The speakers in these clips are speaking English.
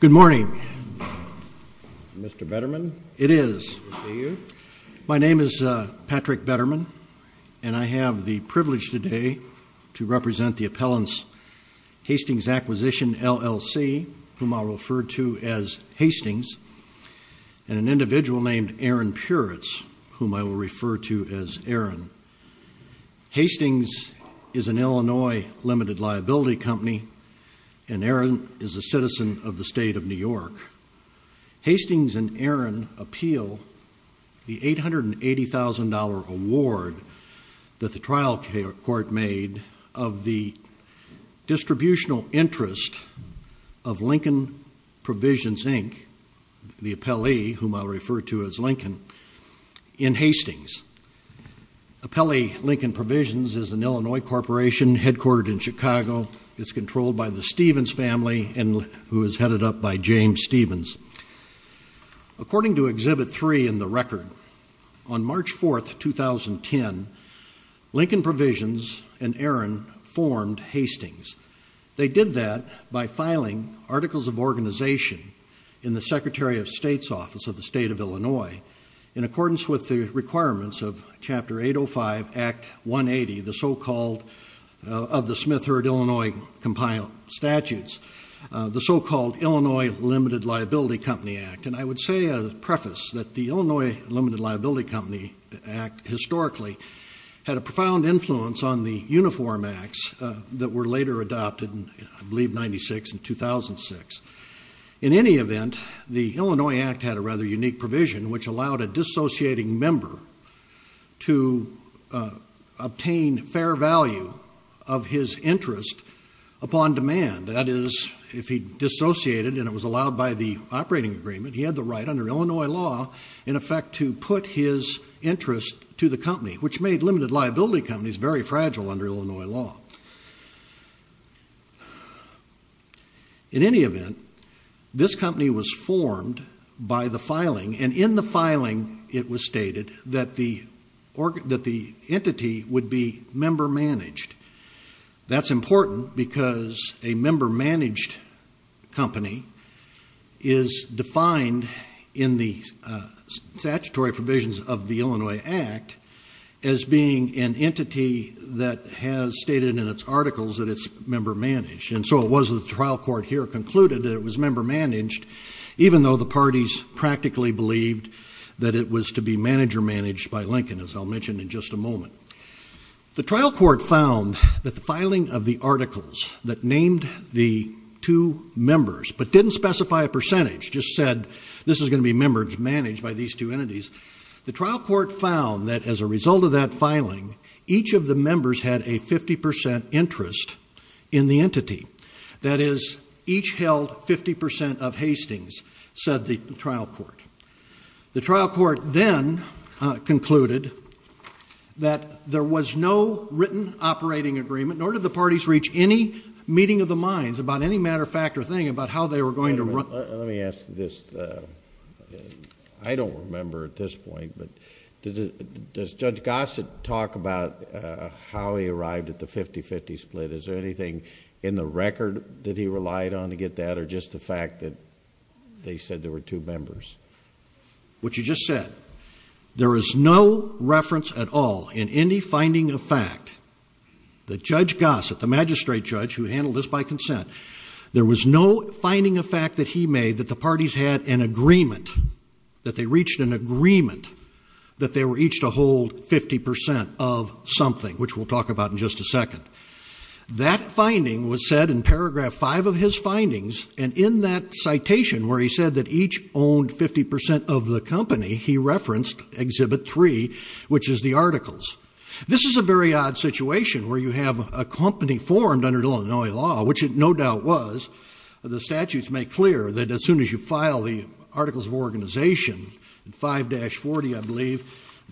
Good morning. Mr. Betterman? It is. My name is Patrick Betterman and I have the privilege today to represent the appellants Hastings Acquisition, LLC, whom I'll refer to as Hastings, and an individual named Aron Puretz, whom I will refer to as Aron. Hastings is an Illinois limited liability company and Aron is a citizen of the state of New York. Hastings and Aron appeal the $880,000 award that the trial court made of the distributional interest of Lincoln Provisions, Inc., the appellee whom I'll refer to as Lincoln, in Hastings. Appellee Lincoln Provisions is an Illinois corporation headquartered in Chicago. It's controlled by the Stevens family and who is headed up by James Stevens. According to Exhibit 3 in the record, on March 4, 2010, Lincoln Provisions and Aron formed Hastings. They did that by filing articles of organization in the Secretary of State's Office of the State of Illinois in accordance with the requirements of Chapter 805, Act 180, the so-called, of the Smith-Heard, Illinois compiled statutes, the so-called Illinois Limited Liability Company Act. And I would say a preface that the Illinois Limited Liability Company Act, historically, had a profound influence on the Uniform Acts that were later adopted in, I believe, 96 and 2006. In any event, the Illinois Act had a rather unique provision which allowed a dissociating member to obtain fair value of his interest upon demand. That is, if he dissociated and it was allowed by the operating agreement, he had the right under Illinois law, in effect, to put his interest to the company, which made limited liability companies very fragile under Illinois law. In any event, this company was formed by the filing, and in the filing it was stated that the entity would be member-managed. That's important because a member-managed company is defined in the statutory provisions of the Illinois Act as being an entity that has stated in its articles that it's member-managed. And so it was that the trial court here concluded that it was member-managed, even though the parties practically believed that it was to be manager-managed by Lincoln, as I'll mention in just a moment. The trial court found that the filing of the articles that named the two members but didn't specify a percentage, just said this is going to be member-managed by these two entities, the trial court found that as a result of that filing, each of the members had a 50% interest in the entity. That is, each held 50% of Hastings, said the trial court. The trial court then concluded that there was no written operating agreement, nor did the parties reach any meeting of the minds about any matter of fact or thing about how they were going to run... Let me ask this. I don't remember at this point, but does Judge Gossett talk about how he arrived at the 50-50 split? Is there anything in the record that he relied on to get that, or just the fact that they said there were two members? What you just said, there is no reference at all in any finding of fact that Judge Gossett, the magistrate judge who handled this by consent, there was no finding of fact that he made that the parties had an agreement, that they reached an agreement that they were each to hold 50% of something, which we'll talk about in just a second. That finding was said in paragraph 5 of his findings, and in that citation where he said that each owned 50% of the company, he referenced exhibit 3, which is the articles. This is a very odd situation where you have a company formed under Illinois law, which it no doubt was. The statutes make clear that as soon as you file the articles of organization, 5-40 I believe,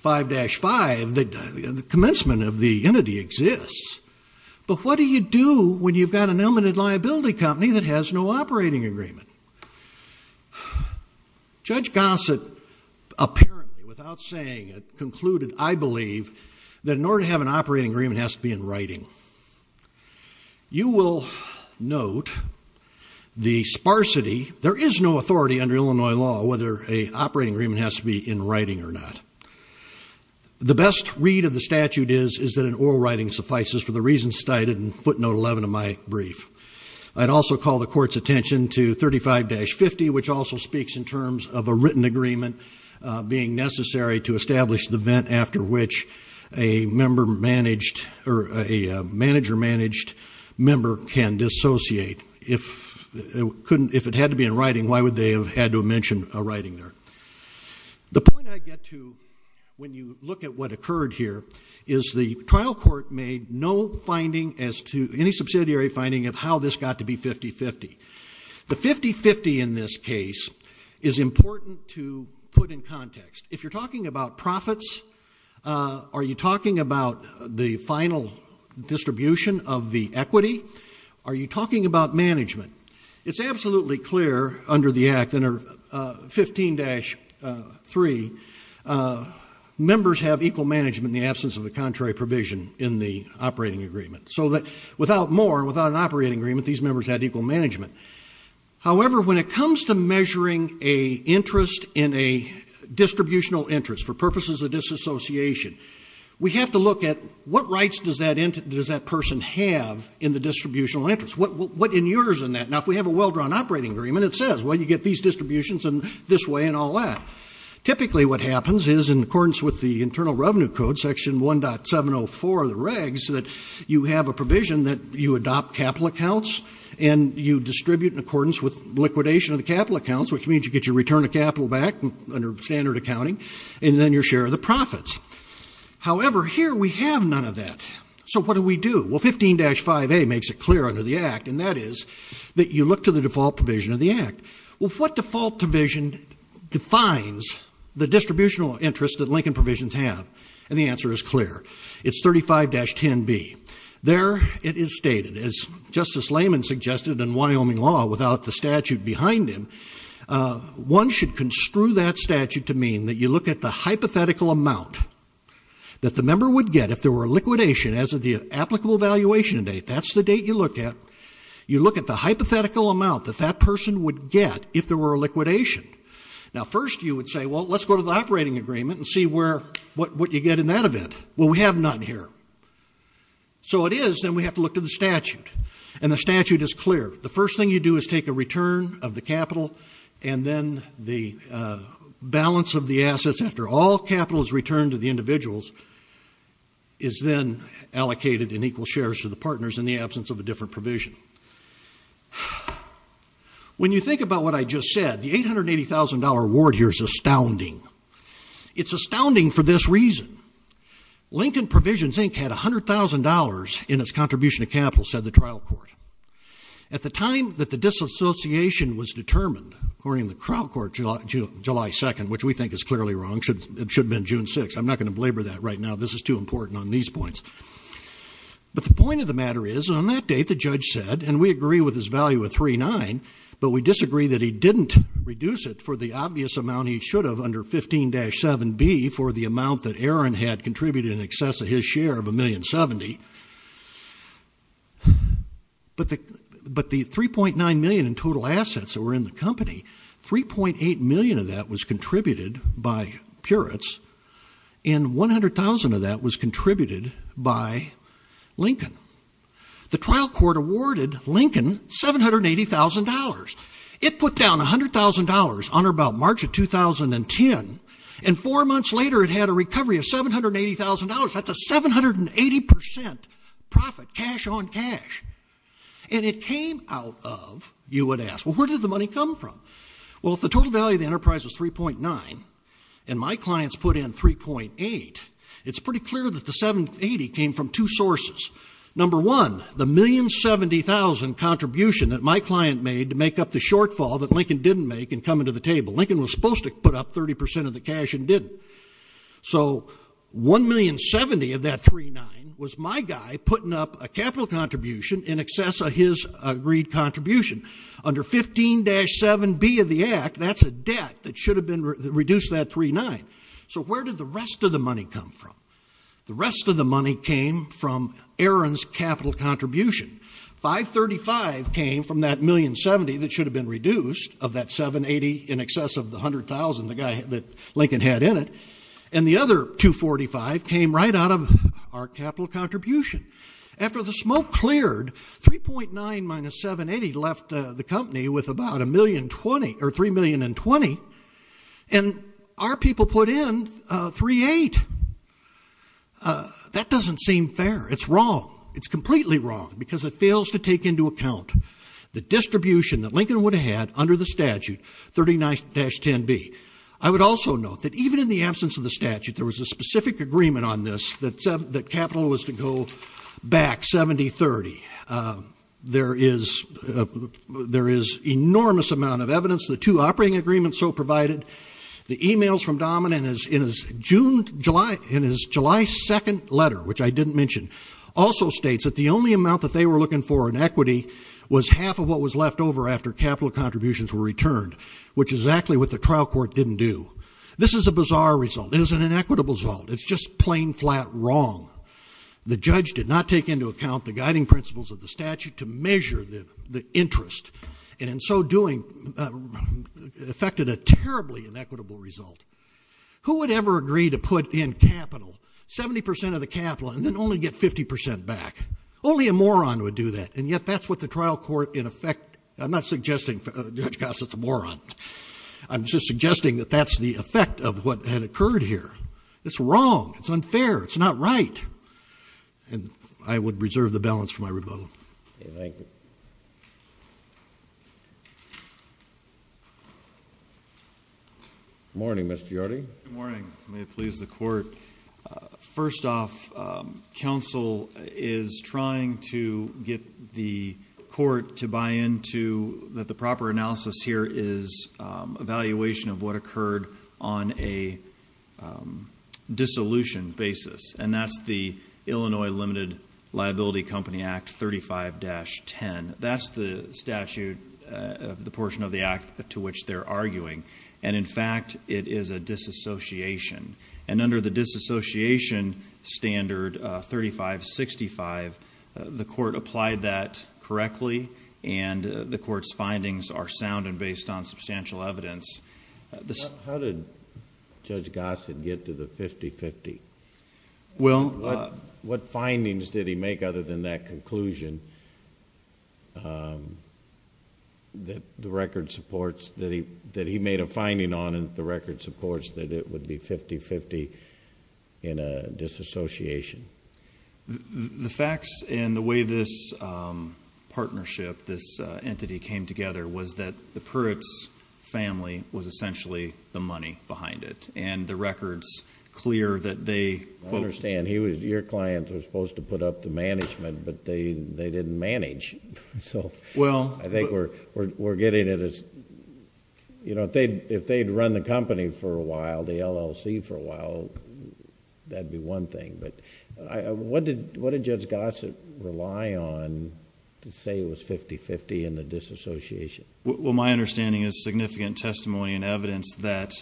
5-5, the commencement of the entity exists. But what do you do when you've got an limited liability company that has no operating agreement? Judge Gossett, apparently, without saying it, concluded, I believe, that in order to have an operating agreement, it has to be in writing. You will note the sparsity. There is no authority under Illinois law whether an operating agreement has to be in writing or not. The best read of the statute is that an oral writing suffices for the reasons cited in footnote 11 of my brief. I'd also call the court's attention to 35-50, which also speaks in terms of a written agreement being necessary to establish the event after which a manager-managed member can dissociate. If it had to be in writing, why would they have had to mention a writing there? The point I get to when you look at what occurred here is the trial court made no finding as to any subsidiary finding of how this got to be 50-50. The 50-50 in this case is important to put in context. If you're talking about profits, are you talking about the final distribution of the equity? Are you talking about management? It's absolutely clear under the Act, under 15-3, members have equal management in the absence of a contrary provision in the operating agreement. So that without more, without an operating agreement, these members had equal management. However, when it comes to measuring an interest in a distributional interest for purposes of disassociation, we have to look at what rights does that person have in the distributional interest? What inures in that? Now, if we have a well-drawn operating agreement, it says, well, you get these distributions in this way and all that. Typically what happens is in accordance with the Internal Revenue Code, Section 1.704 of the regs, that you have a provision that you adopt capital accounts and you distribute in accordance with liquidation of the capital accounts, which means you get your return of capital back under standard accounting, and then your share of the profits. However, here we have none of that. So what do we do? Well, 15-5A makes it clear under the Act, and that is that you look to the default provision of the Act. Well, what default provision defines the distributional interest that Lincoln provisions have? And the answer is clear. It's 35-10B. There it is stated. As Justice Layman suggested in Wyoming law without the statute behind him, one should construe that statute to mean that you look at the hypothetical amount that the member would get if there were a liquidation as of the applicable valuation date. That's the date you look at. You look at the hypothetical amount that that person would get if there were a liquidation. Now, first you would say, well, let's go to the operating agreement and see what you get in that event. Well, we have none here. So it is, then we have to look to the statute. And the statute is clear. The first thing you do is take a return of the capital and then the balance of the assets after all capital is returned to the individuals is then allocated in equal shares to the partners in the absence of a different provision. When you think about what I just said, the $880,000 award here is astounding. It's astounding for this reason. Lincoln Provisions, Inc. had $100,000 in its contribution of capital, said the trial court. At the time that the disassociation was determined, according to the trial court July 2nd, which we think is clearly wrong, it should have been June 6th. I'm not going to belabor that right now. This is too important on these points. But the point of the matter is on that date, the judge said, and we agree with his value of 3.9, but we disagree that he didn't reduce it for the obvious amount he should have under 15-7B for the amount that Aaron had contributed in excess of his share of $1,070,000. But the $3.9 million in total assets that were in the company, $3.8 million of that was contributed by Puritz and $100,000 of that was contributed by Lincoln. The trial court awarded Lincoln $780,000. It put down $100,000 on or about March of 2010, and four months later it had a recovery of $780,000. That's a 780% profit, cash on cash. And it came out of, you would ask, well, where did the money come from? Well, if the total value of the enterprise was 3.9 and my clients put in 3.8, it's pretty clear that the 780 came from two sources. Number one, the $1,070,000 contribution that my client made to make up the shortfall that Lincoln didn't make and come into the table. Lincoln was supposed to put up 30% of the cash and didn't. So $1,070,000 of that 3.9 was my guy putting up a capital contribution in excess of his agreed contribution. Under 15-7B of the Act, that's a debt that should have been reduced to that 3.9. So where did the rest of the money come from? The rest of the money came from Aaron's capital contribution. $535,000 came from that $1,070,000 that should have been reduced of that 780 in excess of the $100,000 that Lincoln had in it, and the other $245,000 came right out of our capital contribution. After the smoke cleared, 3.9 minus 780 left the company with about $3,020,000, and our people put in $3,800,000. That doesn't seem fair. It's wrong. It's completely wrong because it fails to take into account the distribution that Lincoln would have had under the statute 39-10B. I would also note that even in the absence of the statute, there was a specific agreement on this that capital was to go back 70-30. There is enormous amount of evidence, the two operating agreements so provided. The e-mails from Dahman in his July 2nd letter, which I didn't mention, also states that the only amount that they were looking for in equity was half of what was left over after capital contributions were returned, which is exactly what the trial court didn't do. This is a bizarre result. It is an inequitable result. It's just plain, flat wrong. The judge did not take into account the guiding principles of the statute to measure the interest, and in so doing, affected a terribly inequitable result. Who would ever agree to put in capital, 70% of the capital, and then only get 50% back? Only a moron would do that, and yet that's what the trial court, in effect, I'm not suggesting Judge Gossett's a moron. I'm just suggesting that that's the effect of what had occurred here. It's wrong. It's unfair. It's not right, and I would reserve the balance for my rebuttal. Thank you. Good morning, Mr. Yardley. Good morning. May it please the court. First off, counsel is trying to get the court to buy into that the proper analysis here is evaluation of what occurred on a dissolution basis, and that's the Illinois Limited Liability Company Act 35-10. That's the statute, the portion of the act to which they're arguing, and in fact, it is a disassociation, and under the disassociation standard 35-65, the court applied that correctly, and the court's findings are sound and based on substantial evidence. How did Judge Gossett get to the 50-50? Well... What findings did he make other than that conclusion that the record supports that he made a finding on the record supports that it would be 50-50 in a disassociation? The facts and the way this partnership, this entity, came together was that the Pruitts family was essentially the money behind it, and the record's clear that they... I understand. Your clients were supposed to put up to management, but they didn't manage. Well... I think we're getting it as... If they'd run the company for a while, the LLC for a while, that'd be one thing, but what did Judge Gossett rely on to say it was 50-50 in the disassociation? Well, my understanding is significant testimony and evidence that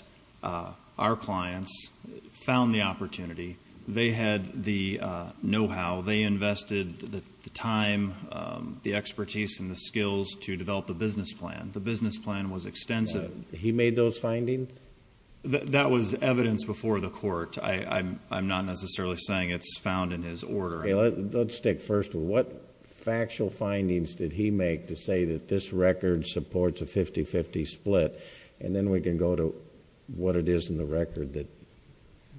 our clients found the opportunity. They had the know-how. They invested the time, the expertise, and the skills to develop the business plan. The business plan was extensive. He made those findings? That was evidence before the court. I'm not necessarily saying it's found in his order. Okay. Let's stick first with what factual findings did he make to say that this record supports a 50-50 split, and then we can go to what it is in the record that...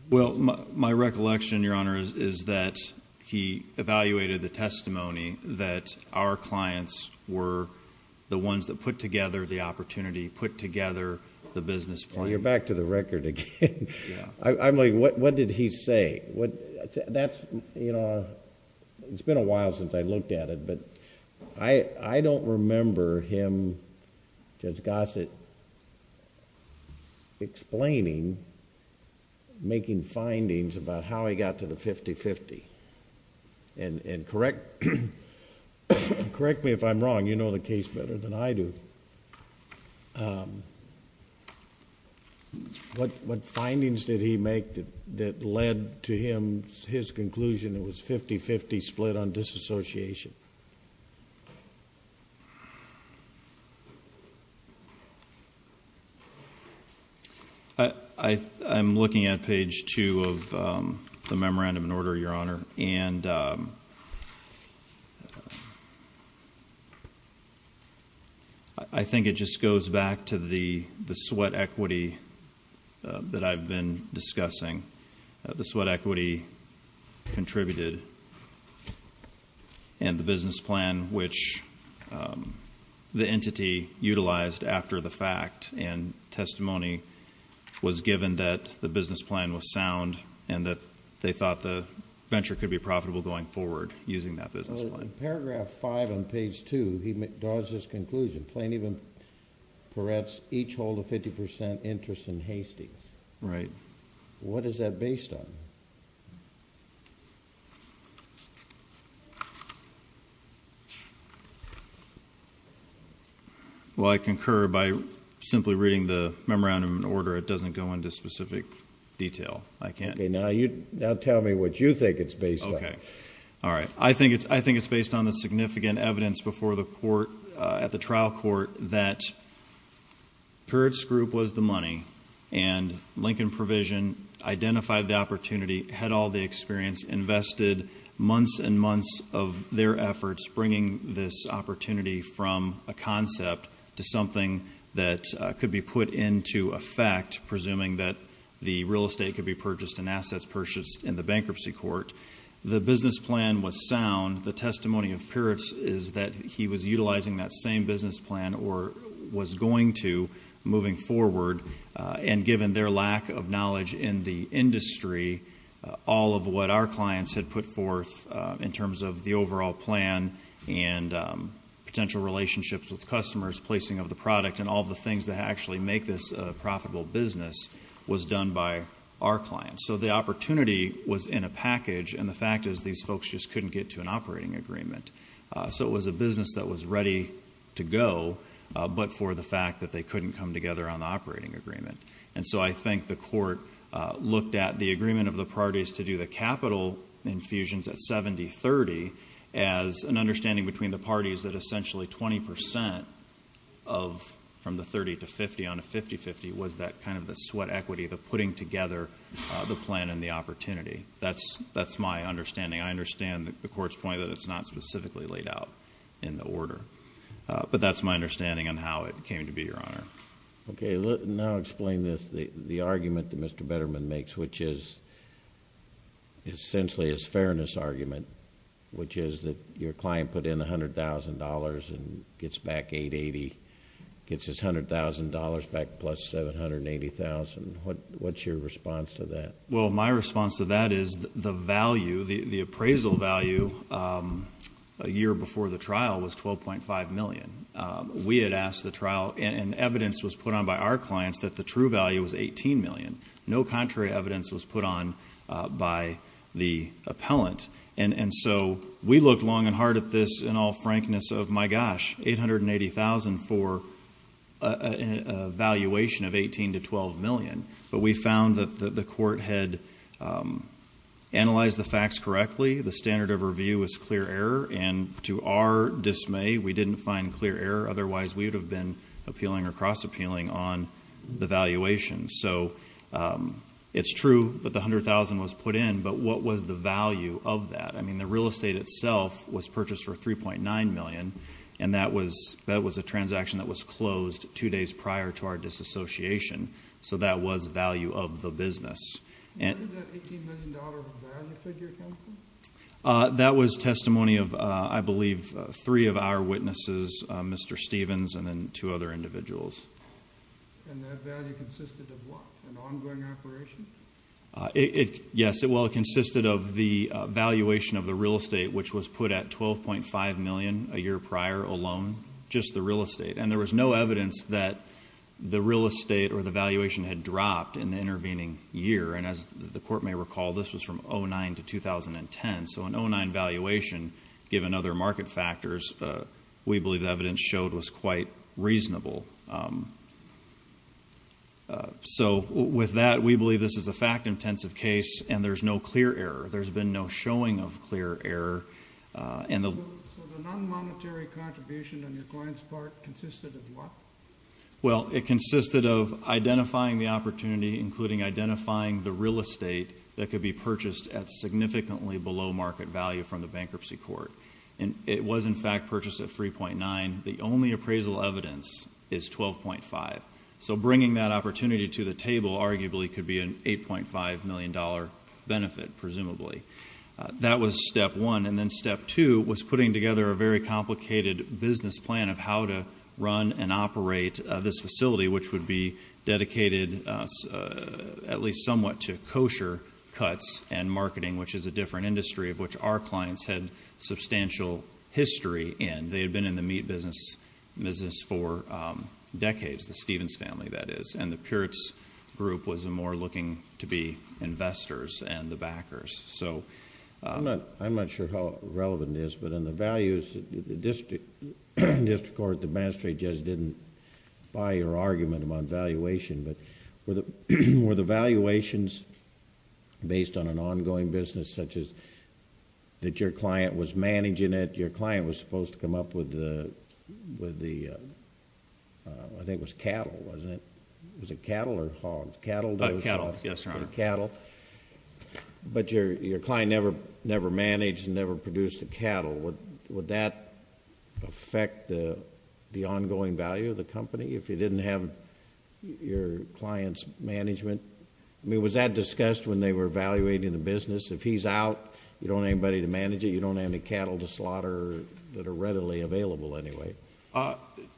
Well, my recollection, Your Honor, is that he evaluated the testimony that our clients were the ones that put together the opportunity, put together the business plan. You're back to the record again. Yeah. I'm like, what did he say? It's been a while since I looked at it, but I don't remember him, Judge Gossett, explaining, making findings about how he got to the 50-50. Correct me if I'm wrong. You know the case better than I do. What findings did he make that led to his conclusion it was a 50-50 split on disassociation? I'm looking at page 2 of the memorandum in order, Your Honor, and I think it just goes back to the sweat equity that I've been discussing, the sweat equity contributed and the business plan which the entity utilized after the fact and testimony was given that the business plan was sound and that they thought the venture could be profitable going forward using that business plan. Well, in paragraph 5 on page 2, he draws this conclusion, Plaintiff and Peretz each hold a 50 percent interest in Hastie. Right. What is that based on? Well, I concur by simply reading the memorandum in order. It doesn't go into specific detail. I can't. Okay. Now tell me what you think it's based on. Okay. All right. I think it's based on the significant evidence before the court at the trial court that Peretz's group was the money and Lincoln Provision identified the opportunity, had all the experience, invested months and months of their efforts bringing this opportunity from a concept to something that could be put into effect, presuming that the real estate could be purchased and assets purchased in the bankruptcy court. The business plan was sound. The testimony of Peretz is that he was utilizing that same business plan or was going to moving forward and given their lack of knowledge in the industry, all of what our clients had put forth in terms of the overall plan and potential relationships with customers, placing of the product, and all the things that actually make this a profitable business was done by our clients. So the opportunity was in a package, and the fact is these folks just couldn't get to an operating agreement. So it was a business that was ready to go, but for the fact that they couldn't come together on the operating agreement. And so I think the court looked at the agreement of the parties to do the capital infusions at 70-30 as an understanding between the parties that essentially 20% from the 30 to 50 on a 50-50 was that kind of the sweat equity, the putting together the plan and the opportunity. That's my understanding. I understand the court's point that it's not specifically laid out in the order, but that's my understanding on how it came to be, Your Honor. Okay. Now explain this, the argument that Mr. Betterman makes, which is essentially his fairness argument, which is that your client put in $100,000 and gets back $880,000, gets his $100,000 back plus $780,000. What's your response to that? Well, my response to that is the value, the appraisal value a year before the trial was $12.5 million. We had asked the trial, and evidence was put on by our clients that the true value was $18 million. No contrary evidence was put on by the appellant. And so we looked long and hard at this in all frankness of, my gosh, $880,000 for a valuation of $18 to $12 million. But we found that the court had analyzed the facts correctly. The standard of review was clear error, and to our dismay, we didn't find clear error. Otherwise, we would have been appealing or cross-appealing on the valuation. So it's true that the $100,000 was put in, but what was the value of that? I mean, the real estate itself was purchased for $3.9 million, and that was a transaction that was closed two days prior to our disassociation. So that was value of the business. When did that $18 million value figure come from? That was testimony of, I believe, three of our witnesses, Mr. Stevens and then two other individuals. And that value consisted of what? An ongoing operation? Yes. Well, it consisted of the valuation of the real estate, which was put at $12.5 million a year prior alone, just the real estate. And there was no evidence that the real estate or the valuation had dropped in the intervening year. And as the court may recall, this was from 2009 to 2010. So an 2009 valuation, given other market factors, we believe the evidence showed was quite reasonable. So with that, we believe this is a fact-intensive case, and there's no clear error. There's been no showing of clear error. So the non-monetary contribution on your client's part consisted of what? Well, it consisted of identifying the opportunity, including identifying the real estate that could be purchased at significantly below market value from the bankruptcy court. And it was, in fact, purchased at 3.9. The only appraisal evidence is 12.5. So bringing that opportunity to the table arguably could be an $8.5 million benefit, presumably. That was step one. And then step two was putting together a very complicated business plan of how to run and operate this facility, which would be dedicated at least somewhat to kosher cuts and marketing, which is a different industry of which our clients had substantial history in. They had been in the meat business for decades, the Stevens family, that is. And the Puritz group was more looking to be investors and the backers. I'm not sure how relevant it is, but in the values, the district court, the magistrate just didn't buy your argument about valuation. But were the valuations based on an ongoing business, such as that your client was managing it, that your client was supposed to come up with the, I think it was cattle, wasn't it? Was it cattle or hogs? Cattle. Yes, Your Honor. Cattle. But your client never managed and never produced the cattle. Would that affect the ongoing value of the company if you didn't have your client's management? I mean, was that discussed when they were evaluating the business? If he's out, you don't have anybody to manage it? You don't have any cattle to slaughter that are readily available anyway?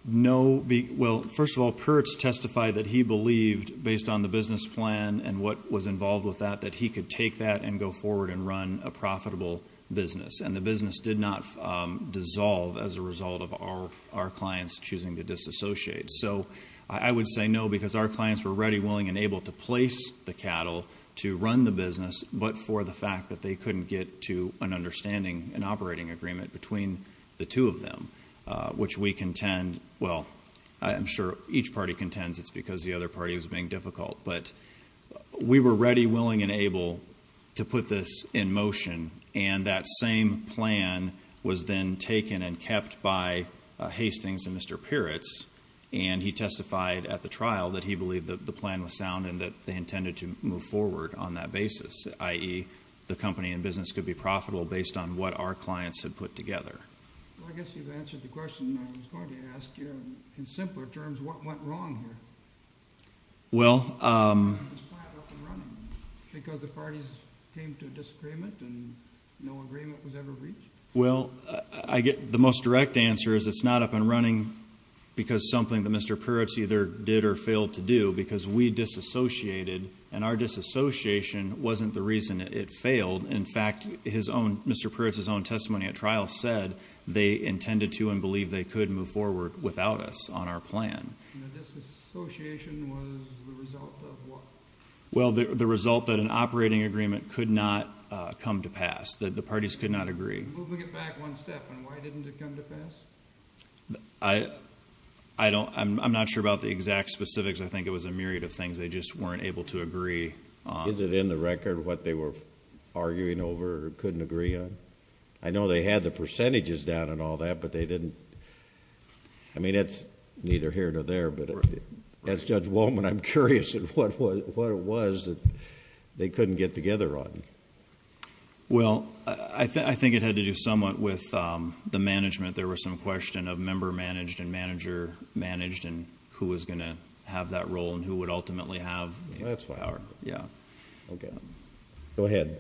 No. Well, first of all, Puritz testified that he believed, based on the business plan and what was involved with that, that he could take that and go forward and run a profitable business. And the business did not dissolve as a result of our clients choosing to disassociate. So I would say no, because our clients were ready, willing, and able to place the cattle to run the business, but for the fact that they couldn't get to an understanding, an operating agreement between the two of them, which we contend, well, I'm sure each party contends it's because the other party was being difficult. But we were ready, willing, and able to put this in motion, and that same plan was then taken and kept by Hastings and Mr. Puritz, and he testified at the trial that he believed that the plan was sound and that they intended to move forward on that basis, i.e., the company and business could be profitable based on what our clients had put together. Well, I guess you've answered the question I was going to ask you. In simpler terms, what went wrong here? Well, I get the most direct answer is it's not up and running because something that Mr. Puritz either did or failed to do, because we disassociated, and our disassociation wasn't the reason it failed. In fact, Mr. Puritz's own testimony at trial said they intended to and believed they could move forward without us on our plan. And the disassociation was the result of what? Well, the result that an operating agreement could not come to pass, that the parties could not agree. You're moving it back one step, and why didn't it come to pass? I'm not sure about the exact specifics. I think it was a myriad of things they just weren't able to agree on. Is it in the record what they were arguing over or couldn't agree on? I know they had the percentages down and all that, but they didn't. I mean, it's neither here nor there, but as Judge Wolman, I'm curious at what it was that they couldn't get together on. Well, I think it had to do somewhat with the management. There was some question of member managed and manager managed and who was going to have that role and who would ultimately have the power. That's fine. Okay. Go ahead.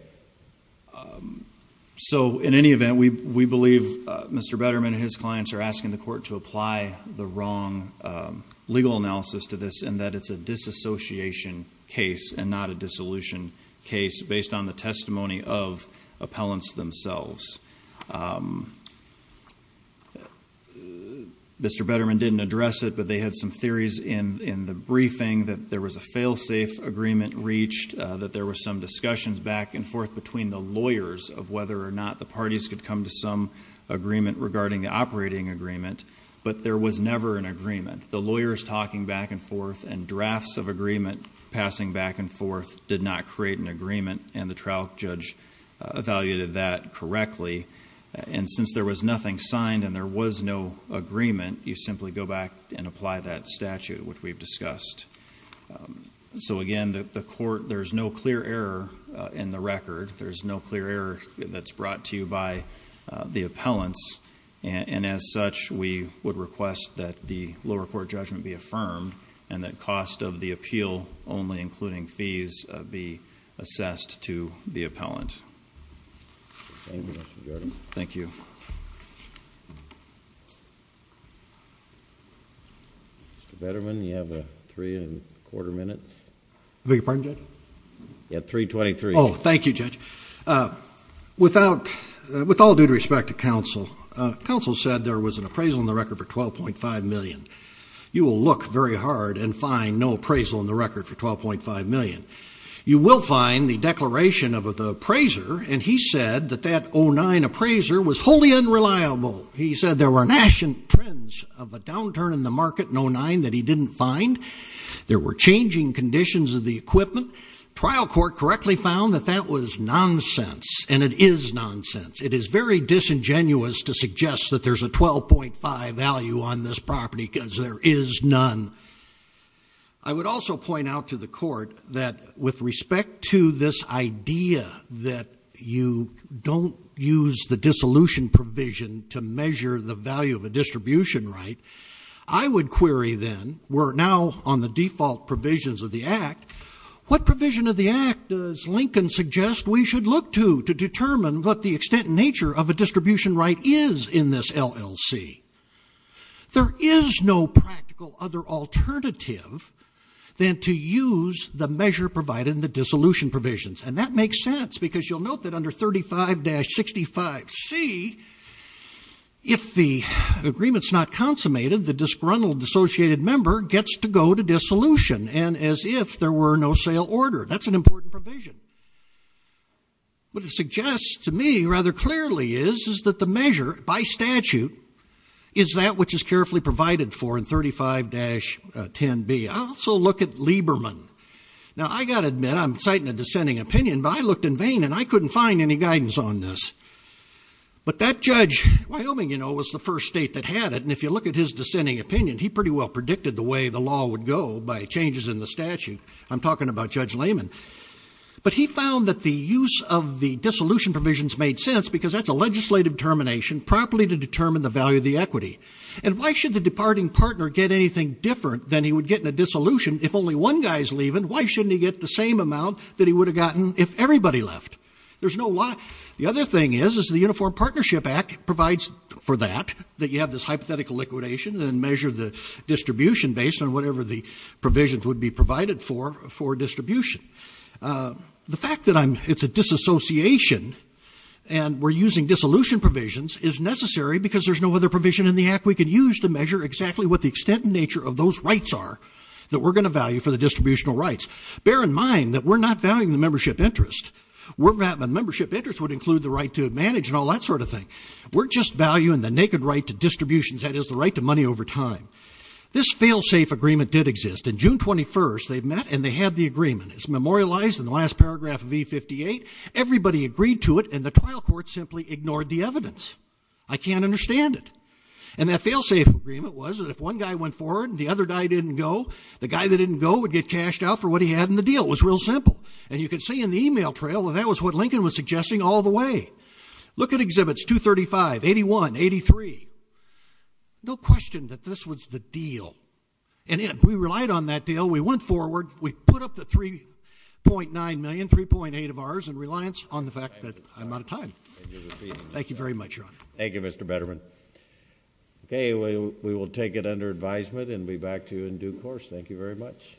So in any event, we believe Mr. Betterman and his clients are asking the court to apply the wrong legal analysis to this and that it's a disassociation case and not a dissolution case based on the testimony of appellants themselves. Mr. Betterman didn't address it, but they had some theories in the briefing that there was a fail-safe agreement reached, that there were some discussions back and forth between the lawyers of whether or not the parties could come to some agreement regarding the operating agreement, but there was never an agreement. The lawyers talking back and forth and drafts of agreement passing back and forth did not create an agreement, and the trial judge evaluated that correctly. And since there was nothing signed and there was no agreement, you simply go back and apply that statute, which we've discussed. So again, there's no clear error in the record. There's no clear error that's brought to you by the appellants. And as such, we would request that the lower court judgment be affirmed and that cost of the appeal only including fees be assessed to the appellant. Thank you, Mr. Jordan. Thank you. Thank you. Mr. Betterman, you have three and a quarter minutes. I beg your pardon, Judge? You have 3.23. Oh, thank you, Judge. With all due respect to counsel, counsel said there was an appraisal in the record for $12.5 million. You will look very hard and find no appraisal in the record for $12.5 million. You will find the declaration of the appraiser, and he said that that 09 appraiser was wholly unreliable. He said there were national trends of a downturn in the market in 09 that he didn't find. There were changing conditions of the equipment. Trial court correctly found that that was nonsense, and it is nonsense. It is very disingenuous to suggest that there's a 12.5 value on this property because there is none. I would also point out to the court that with respect to this idea that you don't use the dissolution provision to measure the value of a distribution right, I would query then, we're now on the default provisions of the Act, what provision of the Act does Lincoln suggest we should look to to determine what the extent and nature of a distribution right is in this LLC? There is no practical other alternative than to use the measure provided in the dissolution provisions, and that makes sense because you'll note that under 35-65C, if the agreement's not consummated, the disgruntled associated member gets to go to dissolution, and as if there were no sale order. That's an important provision. What it suggests to me rather clearly is that the measure by statute is that which is carefully provided for in 35-10B. I also look at Lieberman. Now, I've got to admit, I'm citing a dissenting opinion, but I looked in vain, and I couldn't find any guidance on this. But that judge, Wyoming, you know, was the first state that had it, and if you look at his dissenting opinion, he pretty well predicted the way the law would go by changes in the statute. I'm talking about Judge Lehman. But he found that the use of the dissolution provisions made sense because that's a legislative termination properly to determine the value of the equity. And why should the departing partner get anything different than he would get in a dissolution if only one guy's leaving? Why shouldn't he get the same amount that he would have gotten if everybody left? There's no why. The other thing is, is the Uniform Partnership Act provides for that, that you have this hypothetical liquidation, and measure the distribution based on whatever the provisions would be provided for for distribution. The fact that it's a disassociation and we're using dissolution provisions is necessary because there's no other provision in the Act we could use to measure exactly what the extent and nature of those rights are that we're going to value for the distributional rights. Bear in mind that we're not valuing the membership interest. The membership interest would include the right to manage and all that sort of thing. We're just valuing the naked right to distributions, that is, the right to money over time. This failsafe agreement did exist. On June 21st, they met and they had the agreement. It's memorialized in the last paragraph of E-58. Everybody agreed to it and the trial court simply ignored the evidence. I can't understand it. And that failsafe agreement was that if one guy went forward and the other guy didn't go, the guy that didn't go would get cashed out for what he had in the deal. It was real simple. And you could see in the email trail that that was what Lincoln was suggesting all the way. Look at Exhibits 235, 81, 83. No question that this was the deal. And yet we relied on that deal. We went forward. We put up the $3.9 million, $3.8 of ours in reliance on the fact that I'm out of time. Thank you very much, Your Honor. Thank you, Mr. Betterman. Okay, we will take it under advisement and be back to you in due course. Thank you very much.